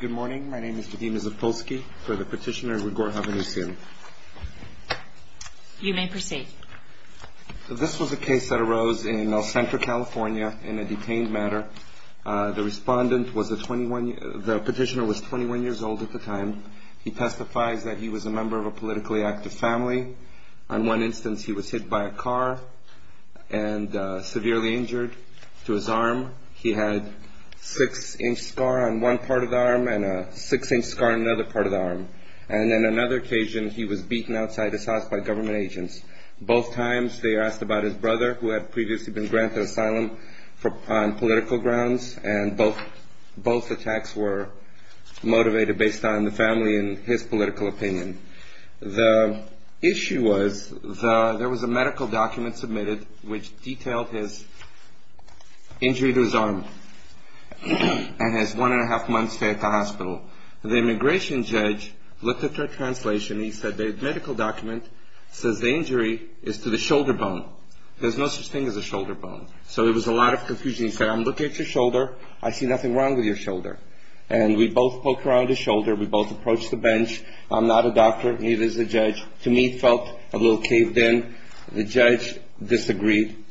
Good morning, my name is Vadim Zapolsky, for the petitioner Grigor Hovhanesyan. You may proceed. This was a case that arose in El Centro, California, in a detained matter. The petitioner was 21 years old at the time. He testifies that he was a member of a politically active family. On one instance, he was hit by a car and severely injured to his arm. He had a six-inch scar on one part of the arm and a six-inch scar on another part of the arm. And on another occasion, he was beaten outside his house by government agents. Both times, they asked about his brother, who had previously been granted asylum on political grounds, and both attacks were motivated based on the family and his political opinion. The issue was there was a medical document submitted which detailed his injury to his arm and his one-and-a-half months stay at the hospital. The immigration judge looked at the translation. He said the medical document says the injury is to the shoulder bone. There's no such thing as a shoulder bone. So it was a lot of confusion. He said, I'm looking at your shoulder. I see nothing wrong with your shoulder. And we both poked around his shoulder. We both approached the bench. I'm not a doctor, neither is the judge. To me, it felt a little caved in. The judge disagreed.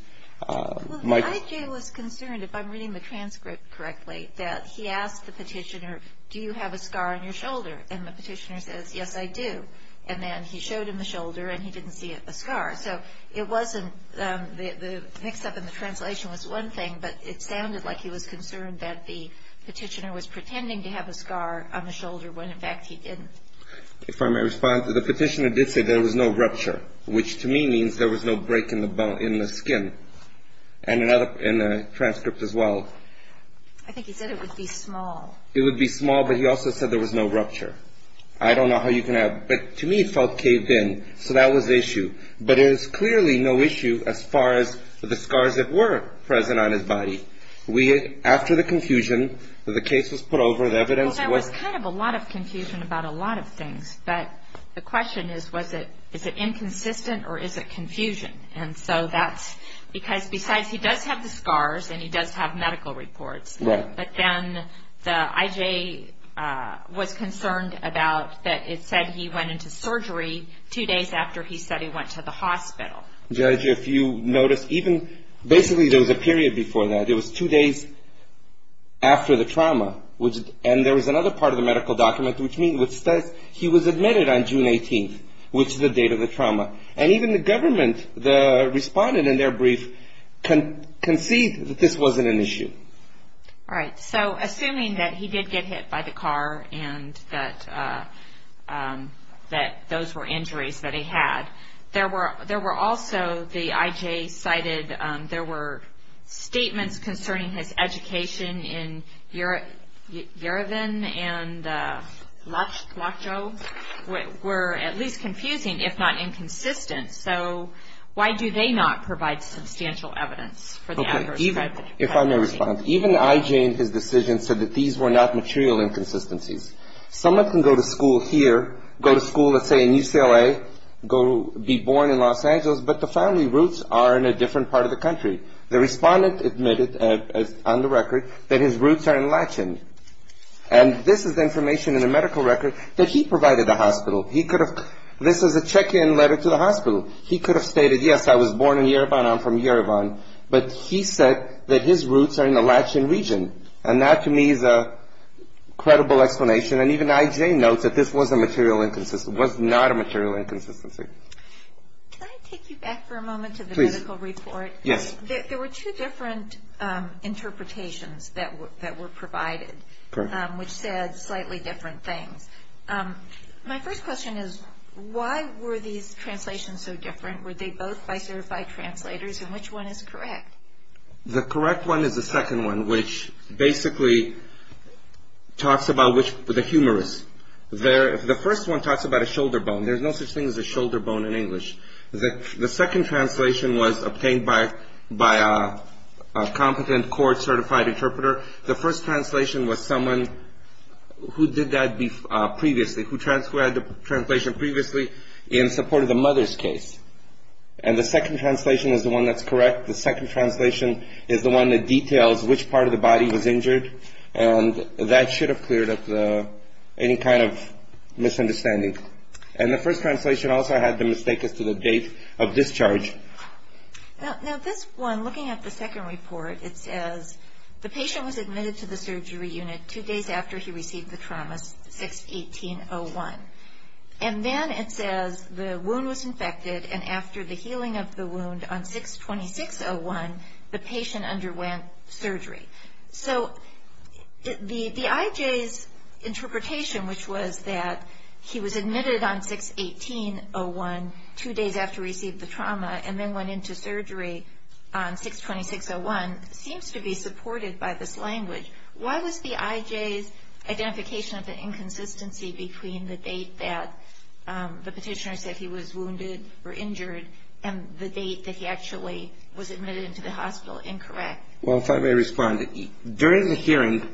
Well, I.J. was concerned, if I'm reading the transcript correctly, that he asked the petitioner, do you have a scar on your shoulder? And the petitioner says, yes, I do. And then he showed him the shoulder, and he didn't see a scar. So it wasn't the mix-up in the translation was one thing, but it sounded like he was concerned that the petitioner was pretending to have a scar on the shoulder when, in fact, he didn't. If I may respond, the petitioner did say there was no rupture, which to me means there was no break in the skin. And in the transcript as well. I think he said it would be small. It would be small, but he also said there was no rupture. I don't know how you can have. But to me, it felt caved in. So that was the issue. But it is clearly no issue as far as the scars that were present on his body. After the confusion, the case was put over. Was there any other evidence? Well, there was kind of a lot of confusion about a lot of things. But the question is, is it inconsistent or is it confusion? And so that's because besides he does have the scars and he does have medical reports. Right. But then the IJ was concerned about that it said he went into surgery two days after he said he went to the hospital. Judge, if you notice, even basically there was a period before that. There was two days after the trauma. And there was another part of the medical document which says he was admitted on June 18th, which is the date of the trauma. And even the government, the respondent in their brief, conceded that this wasn't an issue. All right. So assuming that he did get hit by the car and that those were injuries that he had, there were also, the IJ cited, there were statements concerning his education in Yerevan and Lacho were at least confusing, if not inconsistent. So why do they not provide substantial evidence for the adverse effects of trauma? If I may respond, even the IJ in his decision said that these were not material inconsistencies. Someone can go to school here, go to school, let's say, in UCLA, be born in Los Angeles, but the family roots are in a different part of the country. The respondent admitted on the record that his roots are in Lachon. And this is information in the medical record that he provided the hospital. This is a check-in letter to the hospital. He could have stated, yes, I was born in Yerevan, I'm from Yerevan, but he said that his roots are in the Lachon region. And that, to me, is a credible explanation. And even the IJ notes that this was a material inconsistency, was not a material inconsistency. Can I take you back for a moment to the medical report? Yes. There were two different interpretations that were provided, which said slightly different things. My first question is, why were these translations so different? Were they both by certified translators, and which one is correct? The correct one is the second one, which basically talks about the humerus. The first one talks about a shoulder bone. There's no such thing as a shoulder bone in English. The second translation was obtained by a competent court-certified interpreter. The first translation was someone who did that previously, who had the translation previously in support of the mother's case. And the second translation is the one that's correct. The second translation is the one that details which part of the body was injured, and that should have cleared up any kind of misunderstanding. And the first translation also had the mistake as to the date of discharge. Now, this one, looking at the second report, it says, the patient was admitted to the surgery unit two days after he received the trauma, 6-18-01. And then it says the wound was infected, and after the healing of the wound on 6-26-01, the patient underwent surgery. So the IJ's interpretation, which was that he was admitted on 6-18-01 two days after he received the trauma, and then went into surgery on 6-26-01, seems to be supported by this language. Why was the IJ's identification of the inconsistency between the date that the petitioner said he was wounded or injured and the date that he actually was admitted into the hospital incorrect? Well, if I may respond, during the hearing,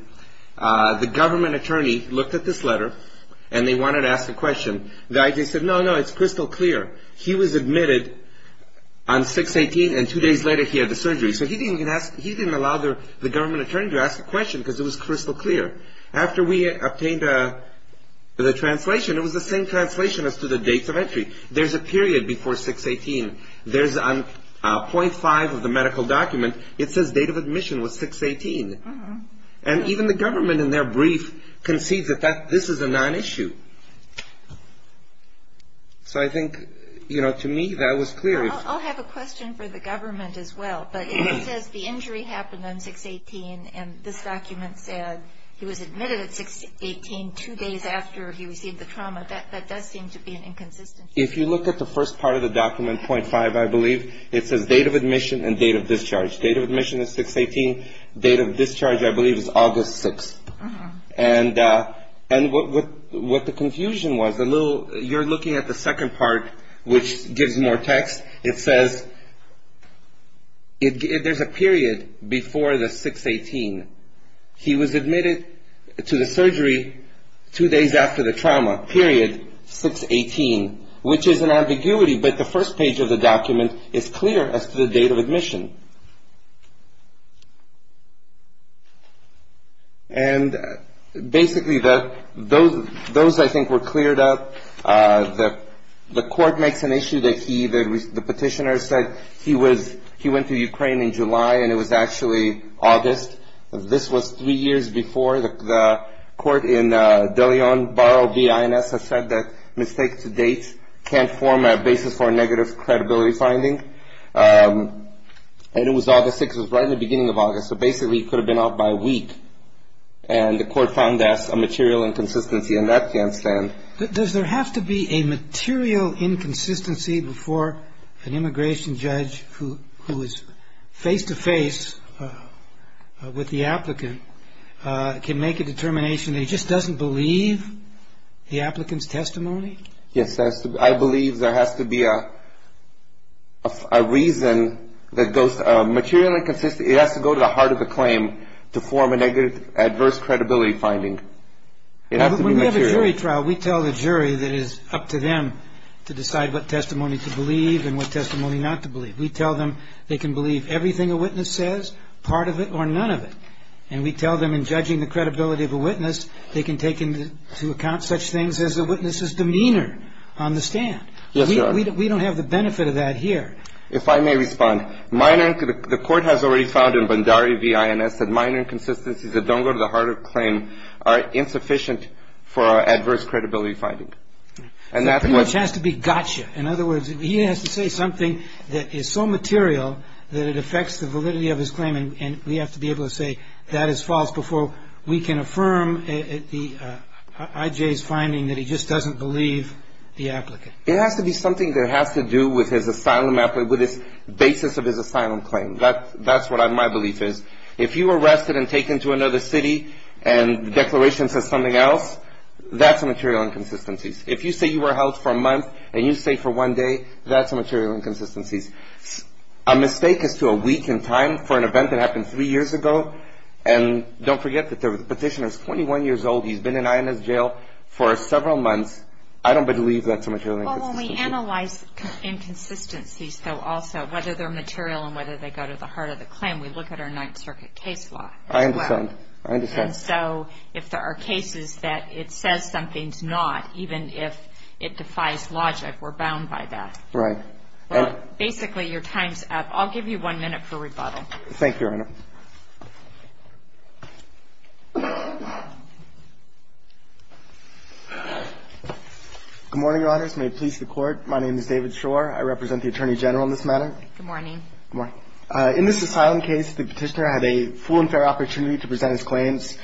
the government attorney looked at this letter, and they wanted to ask a question. The IJ said, no, no, it's crystal clear. He was admitted on 6-18, and two days later he had the surgery. So he didn't allow the government attorney to ask the question because it was crystal clear. After we obtained the translation, it was the same translation as to the dates of entry. There's a period before 6-18. There's a .5 of the medical document. It says date of admission was 6-18. And even the government in their brief concedes that this is a non-issue. So I think, you know, to me that was clear. I'll have a question for the government as well, but it says the injury happened on 6-18, and this document said he was admitted at 6-18 two days after he received the trauma. That does seem to be an inconsistency. If you look at the first part of the document, .5, I believe, it says date of admission and date of discharge. Date of admission is 6-18. Date of discharge, I believe, is August 6th. And what the confusion was, you're looking at the second part, which gives more text. It says there's a period before the 6-18. He was admitted to the surgery two days after the trauma, period 6-18, which is an ambiguity, but the first page of the document is clear as to the date of admission. And basically those, I think, were cleared up. The court makes an issue that the petitioner said he went to Ukraine in July, and it was actually August. This was three years before. The court in De Leon Barrow v. INS has said that mistakes to date can form a basis for negative credibility finding. And it was August 6th. It was right in the beginning of August, so basically he could have been out by a week. And the court found that's a material inconsistency, and that can't stand. Does there have to be a material inconsistency before an immigration judge who is face-to-face with the applicant can make a determination that he just doesn't believe the applicant's testimony? Yes. I believe there has to be a reason that goes to a material inconsistency. It has to go to the heart of the claim to form an adverse credibility finding. It has to be material. When we have a jury trial, we tell the jury that it is up to them to decide what testimony to believe and what testimony not to believe. We tell them they can believe everything a witness says, part of it or none of it. And we tell them in judging the credibility of a witness, they can take into account such things as a witness's demeanor on the stand. Yes, Your Honor. We don't have the benefit of that here. If I may respond, the court has already found in Bandari v. INS that minor inconsistencies that don't go to the heart of the claim are insufficient for adverse credibility finding. So it pretty much has to be gotcha. In other words, he has to say something that is so material that it affects the validity of his claim, and we have to be able to say that is false before we can affirm I.J.'s finding that he just doesn't believe the applicant. It has to be something that has to do with his asylum, with the basis of his asylum claim. That's what my belief is. If you were arrested and taken to another city and the declaration says something else, that's a material inconsistency. If you say you were held for a month and you stay for one day, that's a material inconsistency. A mistake as to a week in time for an event that happened three years ago, and don't forget that the petitioner is 21 years old, he's been in INS jail for several months. I don't believe that's a material inconsistency. Well, when we analyze inconsistencies, though, also, whether they're material and whether they go to the heart of the claim, we look at our Ninth Circuit case law as well. I understand. I understand. And so if there are cases that it says something's not, even if it defies logic, we're bound by that. Right. Basically, your time's up. I'll give you one minute for rebuttal. Thank you, Your Honor. Good morning, Your Honors. May it please the Court. My name is David Shore. I represent the Attorney General in this matter. Good morning. Good morning. In this asylum case, the petitioner had a full and fair opportunity to present his claims,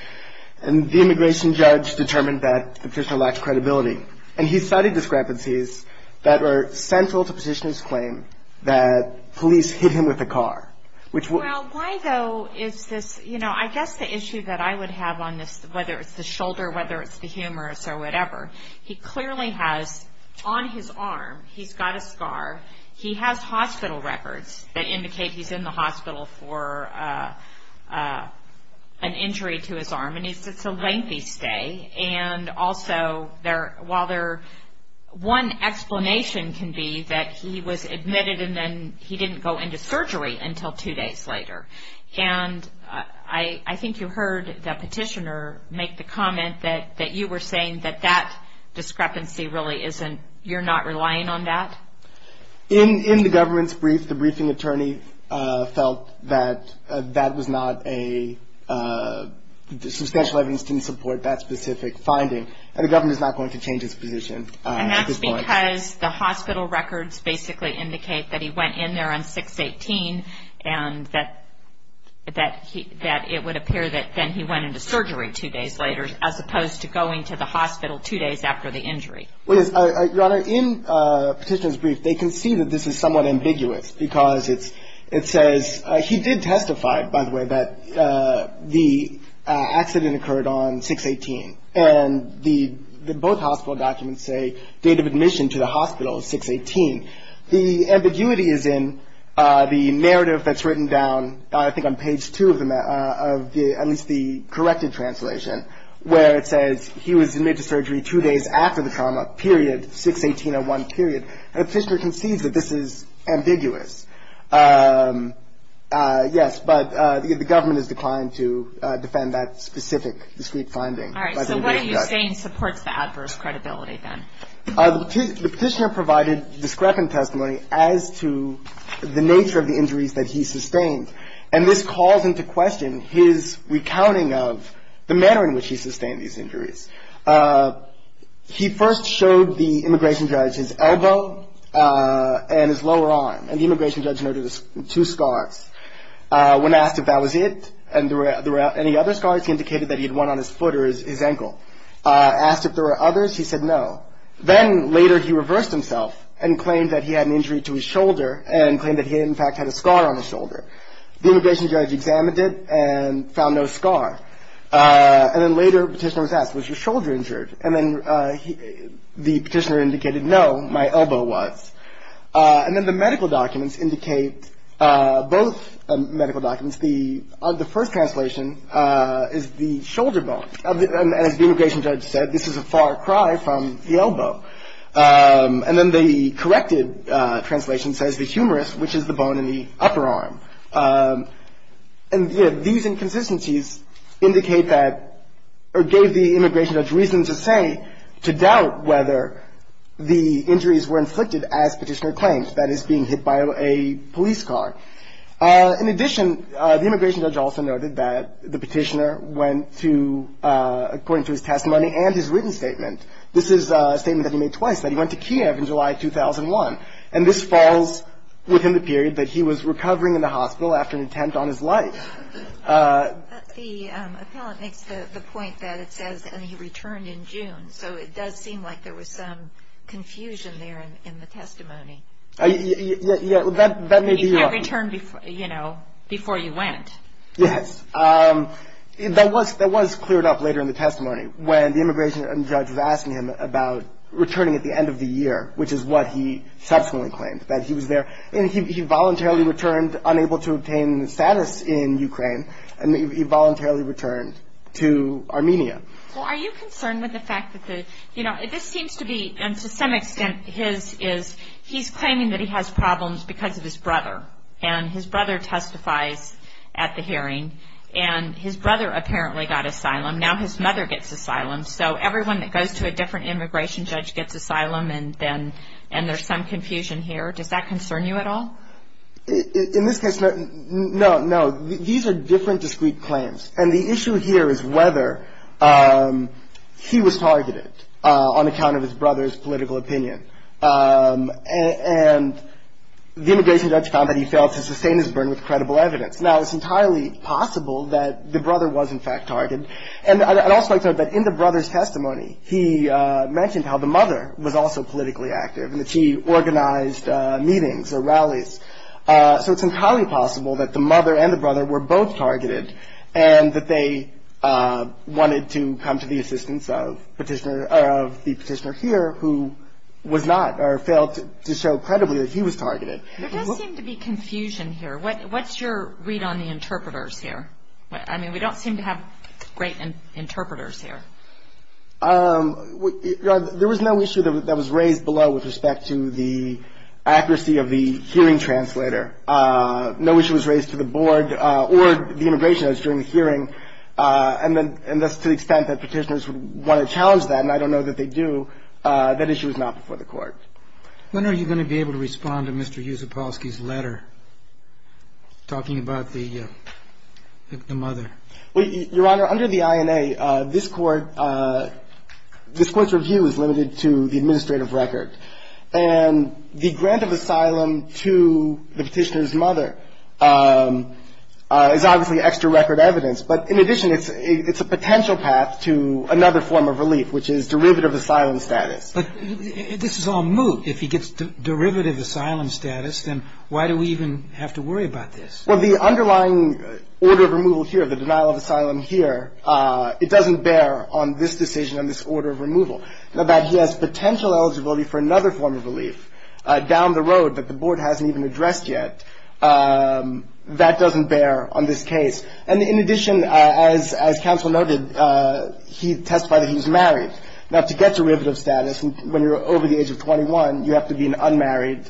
and the immigration judge determined that the petitioner lacked credibility, and he cited discrepancies that are central to petitioner's claim that police hit him with a car, which would Well, why, though, is this, you know, I guess the issue that I would have on this, whether it's the shoulder, whether it's the humerus or whatever, he clearly has on his arm, he's got a scar. He has hospital records that indicate he's in the hospital for an injury to his arm, and it's a lengthy stay. And also, while there one explanation can be that he was admitted and then he didn't go into surgery until two days later, and I think you heard the petitioner make the comment that you were saying that that discrepancy really isn't, you're not relying on that? In the government's brief, felt that that was not a substantial evidence to support that specific finding, and the government is not going to change its position at this point. And that's because the hospital records basically indicate that he went in there on 6-18 and that it would appear that then he went into surgery two days later, as opposed to going to the hospital two days after the injury. Your Honor, in the petitioner's brief, they can see that this is somewhat ambiguous, because it says he did testify, by the way, that the accident occurred on 6-18, and both hospital documents say date of admission to the hospital is 6-18. The ambiguity is in the narrative that's written down, I think on page two of the, at least the corrected translation, where it says he was admitted to surgery two days after the trauma, period, 6-18-01, period. And the petitioner concedes that this is ambiguous. Yes, but the government has declined to defend that specific discrete finding. All right, so what are you saying supports the adverse credibility then? The petitioner provided discrepant testimony as to the nature of the injuries that he sustained, and this calls into question his recounting of the manner in which he sustained these injuries. He first showed the immigration judge his elbow and his lower arm, and the immigration judge noted two scars. When asked if that was it and there were any other scars, he indicated that he had one on his foot or his ankle. Asked if there were others, he said no. Then later he reversed himself and claimed that he had an injury to his shoulder and claimed that he in fact had a scar on his shoulder. The immigration judge examined it and found no scar. And then later the petitioner was asked, was your shoulder injured? And then the petitioner indicated no, my elbow was. And then the medical documents indicate, both medical documents, the first translation is the shoulder bone. And as the immigration judge said, this is a far cry from the elbow. And then the corrected translation says the humerus, which is the bone in the upper arm. And these inconsistencies indicate that or gave the immigration judge reason to say, to doubt whether the injuries were inflicted as petitioner claimed, that is, being hit by a police car. In addition, the immigration judge also noted that the petitioner went to, according to his testimony and his written statement, this is a statement that he made twice, that he went to Kiev in July 2001. And this falls within the period that he was recovering in the hospital after an attempt on his life. The appellant makes the point that it says, and he returned in June, so it does seem like there was some confusion there in the testimony. Yeah, that may be right. You can't return, you know, before you went. Yes. That was cleared up later in the testimony, when the immigration judge was asking him about returning at the end of the year, which is what he subsequently claimed, that he was there. And he voluntarily returned, unable to obtain status in Ukraine, and he voluntarily returned to Armenia. Well, are you concerned with the fact that the, you know, this seems to be, and to some extent his is, he's claiming that he has problems because of his brother, and his brother testifies at the hearing. And his brother apparently got asylum. Now his mother gets asylum. So everyone that goes to a different immigration judge gets asylum, and there's some confusion here. Does that concern you at all? In this case, no, no. These are different, discrete claims. And the issue here is whether he was targeted on account of his brother's political opinion. And the immigration judge found that he failed to sustain his burden with credible evidence. Now, it's entirely possible that the brother was, in fact, targeted. And I'd also like to note that in the brother's testimony, he mentioned how the mother was also politically active, and that she organized meetings or rallies. So it's entirely possible that the mother and the brother were both targeted, and that they wanted to come to the assistance of Petitioner, or of the Petitioner here, who was not, or failed to show credibly that he was targeted. There does seem to be confusion here. What's your read on the interpreters here? I mean, we don't seem to have great interpreters here. There was no issue that was raised below with respect to the accuracy of the hearing translator. No issue was raised to the Board or the immigration judge during the hearing. And that's to the extent that Petitioners would want to challenge that, and I don't know that they do. That issue is not before the Court. When are you going to be able to respond to Mr. Yusupolsky's letter talking about the mother? Your Honor, under the INA, this Court's review is limited to the administrative record. And the grant of asylum to the Petitioner's mother is obviously extra record evidence. But in addition, it's a potential path to another form of relief, which is derivative asylum status. But this is all moot. If he gets derivative asylum status, then why do we even have to worry about this? Well, the underlying order of removal here, the denial of asylum here, it doesn't bear on this decision on this order of removal. Now, that he has potential eligibility for another form of relief down the road that the Board hasn't even addressed yet, that doesn't bear on this case. And in addition, as counsel noted, he testified that he was married. Now, to get derivative status when you're over the age of 21, you have to be an unmarried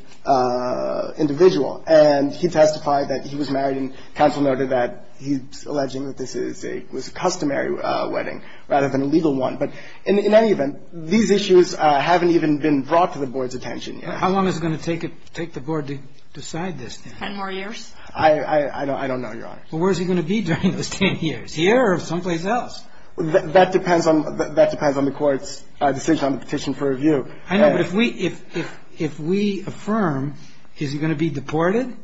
individual. And he testified that he was married. And counsel noted that he's alleging that this is a customary wedding rather than a legal one. But in any event, these issues haven't even been brought to the Board's attention yet. How long is it going to take the Board to decide this thing? Ten more years. I don't know, Your Honor. Well, where is he going to be during those ten years, here or someplace else? That depends on the Court's decision on the petition for review. I know. But if we affirm, is he going to be deported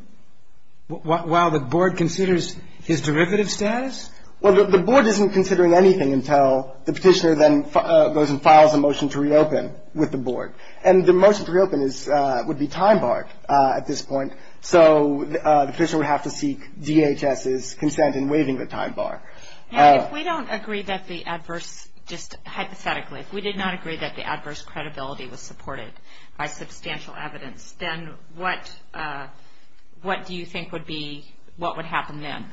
while the Board considers his derivative status? Well, the Board isn't considering anything until the Petitioner then goes and files a motion to reopen with the Board. And the motion to reopen would be time-barred at this point. So the Petitioner would have to seek DHS's consent in waiving the time bar. Now, if we don't agree that the adverse, just hypothetically, if we did not agree that the adverse credibility was supported by substantial evidence, then what do you think would be, what would happen then?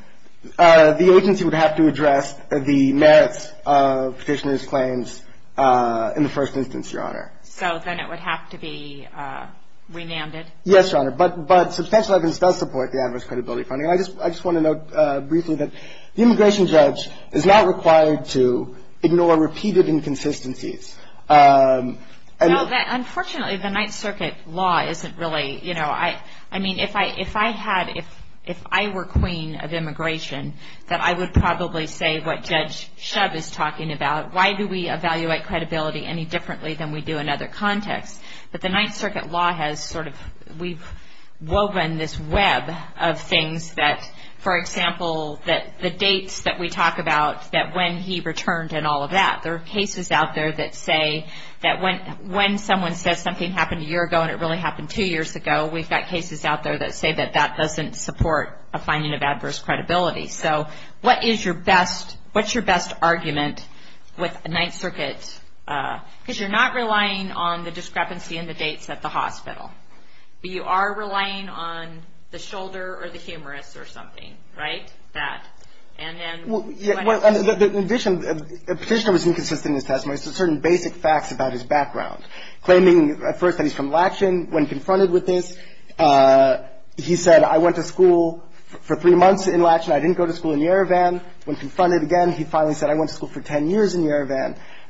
The agency would have to address the merits of Petitioner's claims in the first instance, Your Honor. So then it would have to be remanded? Yes, Your Honor. But substantial evidence does support the adverse credibility finding. I just want to note briefly that the immigration judge is not required to ignore repeated inconsistencies. Unfortunately, the Ninth Circuit law isn't really, you know, I mean, if I had, if I were queen of immigration, that I would probably say what Judge Shub is talking about. Why do we evaluate credibility any differently than we do in other contexts? But the Ninth Circuit law has sort of, we've woven this web of things that, for example, that the dates that we talk about, that when he returned and all of that, there are cases out there that say that when someone says something happened a year ago and it really happened two years ago, we've got cases out there that say that that doesn't support a finding of adverse credibility. So what is your best, what's your best argument with the Ninth Circuit? Because you're not relying on the discrepancy in the dates at the hospital, but you are relying on the shoulder or the humerus or something, right? That. And then when I see it. In addition, Petitioner was inconsistent in his testimony. There's certain basic facts about his background, claiming at first that he's from Latchin. When confronted with this, he said, I went to school for three months in Latchin. I didn't go to school in Yerevan.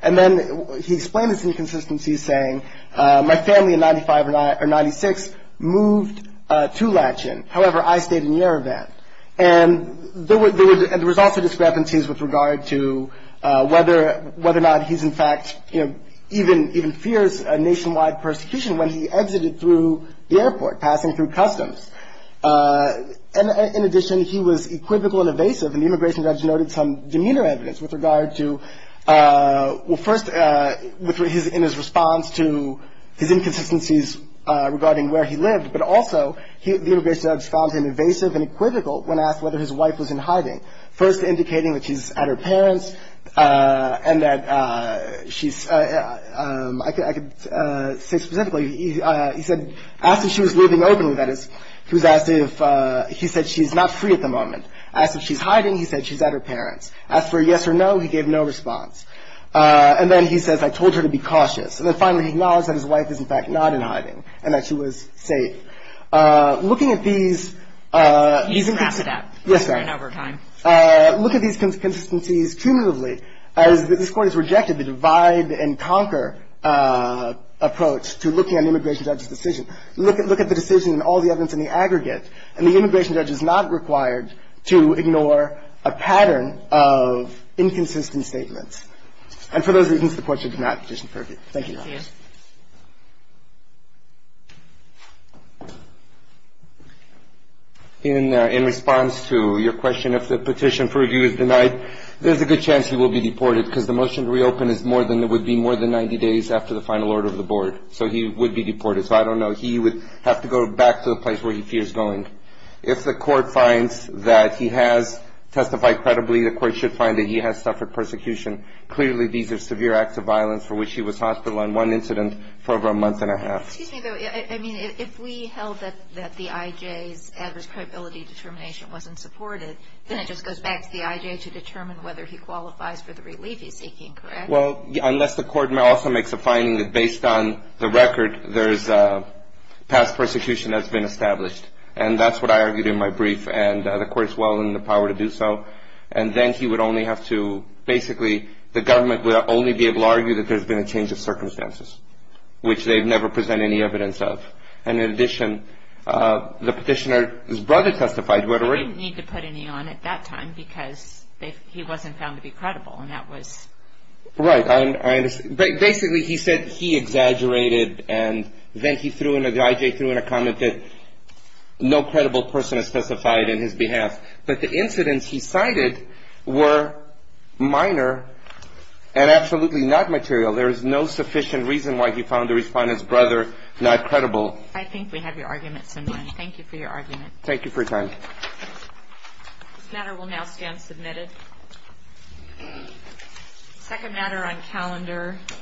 And then he explained his inconsistencies, saying, my family in 95 or 96 moved to Latchin. However, I stayed in Yerevan. And there was also discrepancies with regard to whether or not he's in fact, you know, even fears a nationwide persecution when he exited through the airport, passing through customs. And in addition, he was equivocal and evasive. And the immigration judge noted some demeanor evidence with regard to, well, first in his response to his inconsistencies regarding where he lived, but also the immigration judge found him evasive and equivocal when asked whether his wife was in hiding, first indicating that she's at her parents and that she's, I could say specifically, he said, as if she was leaving openly, that is. He said she's not free at the moment. Asked if she's hiding. He said she's at her parents. Asked for a yes or no. He gave no response. And then he says, I told her to be cautious. And then finally, he acknowledged that his wife is in fact not in hiding and that she was safe. Looking at these — GOTTLIEB He's in Rassadab. MR. Yes, ma'am. MS. GOTTLIEB Over time. MR. GARCIA. Look at these inconsistencies cumulatively. This Court has rejected the divide and conquer approach to looking at an immigration judge's decision. Look at the decision and all the evidence in the aggregate. And the immigration judge is not required to ignore a pattern of inconsistent statements. And for those reasons, the Court should not petition for review. Thank you, Your Honor. MS. GOTTLIEB Thank you. MR. GARCIA. In response to your question if the petition for review is denied, there's a good chance he will be deported because the motion to reopen is more than it would be more than 90 days after the final order of the Board. So he would be deported. So I don't know. But he would have to go back to the place where he fears going. If the Court finds that he has testified credibly, the Court should find that he has suffered persecution. Clearly, these are severe acts of violence for which he was hospitalized on one incident for over a month and a half. MS. GOTTLIEB Excuse me, though. I mean, if we held that the IJ's adverse credibility determination wasn't supported, then it just goes back to the IJ to determine whether he qualifies for the relief he's seeking, correct? MR. GARCIA. Well, the IJ has said that there has been no evidence of past persecution that's been established. And that's what I argued in my brief. And the Court has well in the power to do so. And then he would only have to – basically, the government would only be able to argue that there's been a change of circumstances, which they've never presented any evidence of. And in addition, the petitioner – his brother testified, do I have it right? MS. GOTTLIEB He didn't need to put any on at that time because he wasn't found to be credible. And that was – CARNEY Right. I understand. Basically, he said he exaggerated. And then he threw in – the IJ threw in a comment that no credible person is specified in his behalf. But the incidents he cited were minor and absolutely not material. There is no sufficient reason why he found the Respondent's brother not credible. MS. GOTTLIEB I think we have your argument, Senator. Thank you for your argument. MR. CARNEY Thank you for your time. MS. GOTTLIEB Thank you. MS.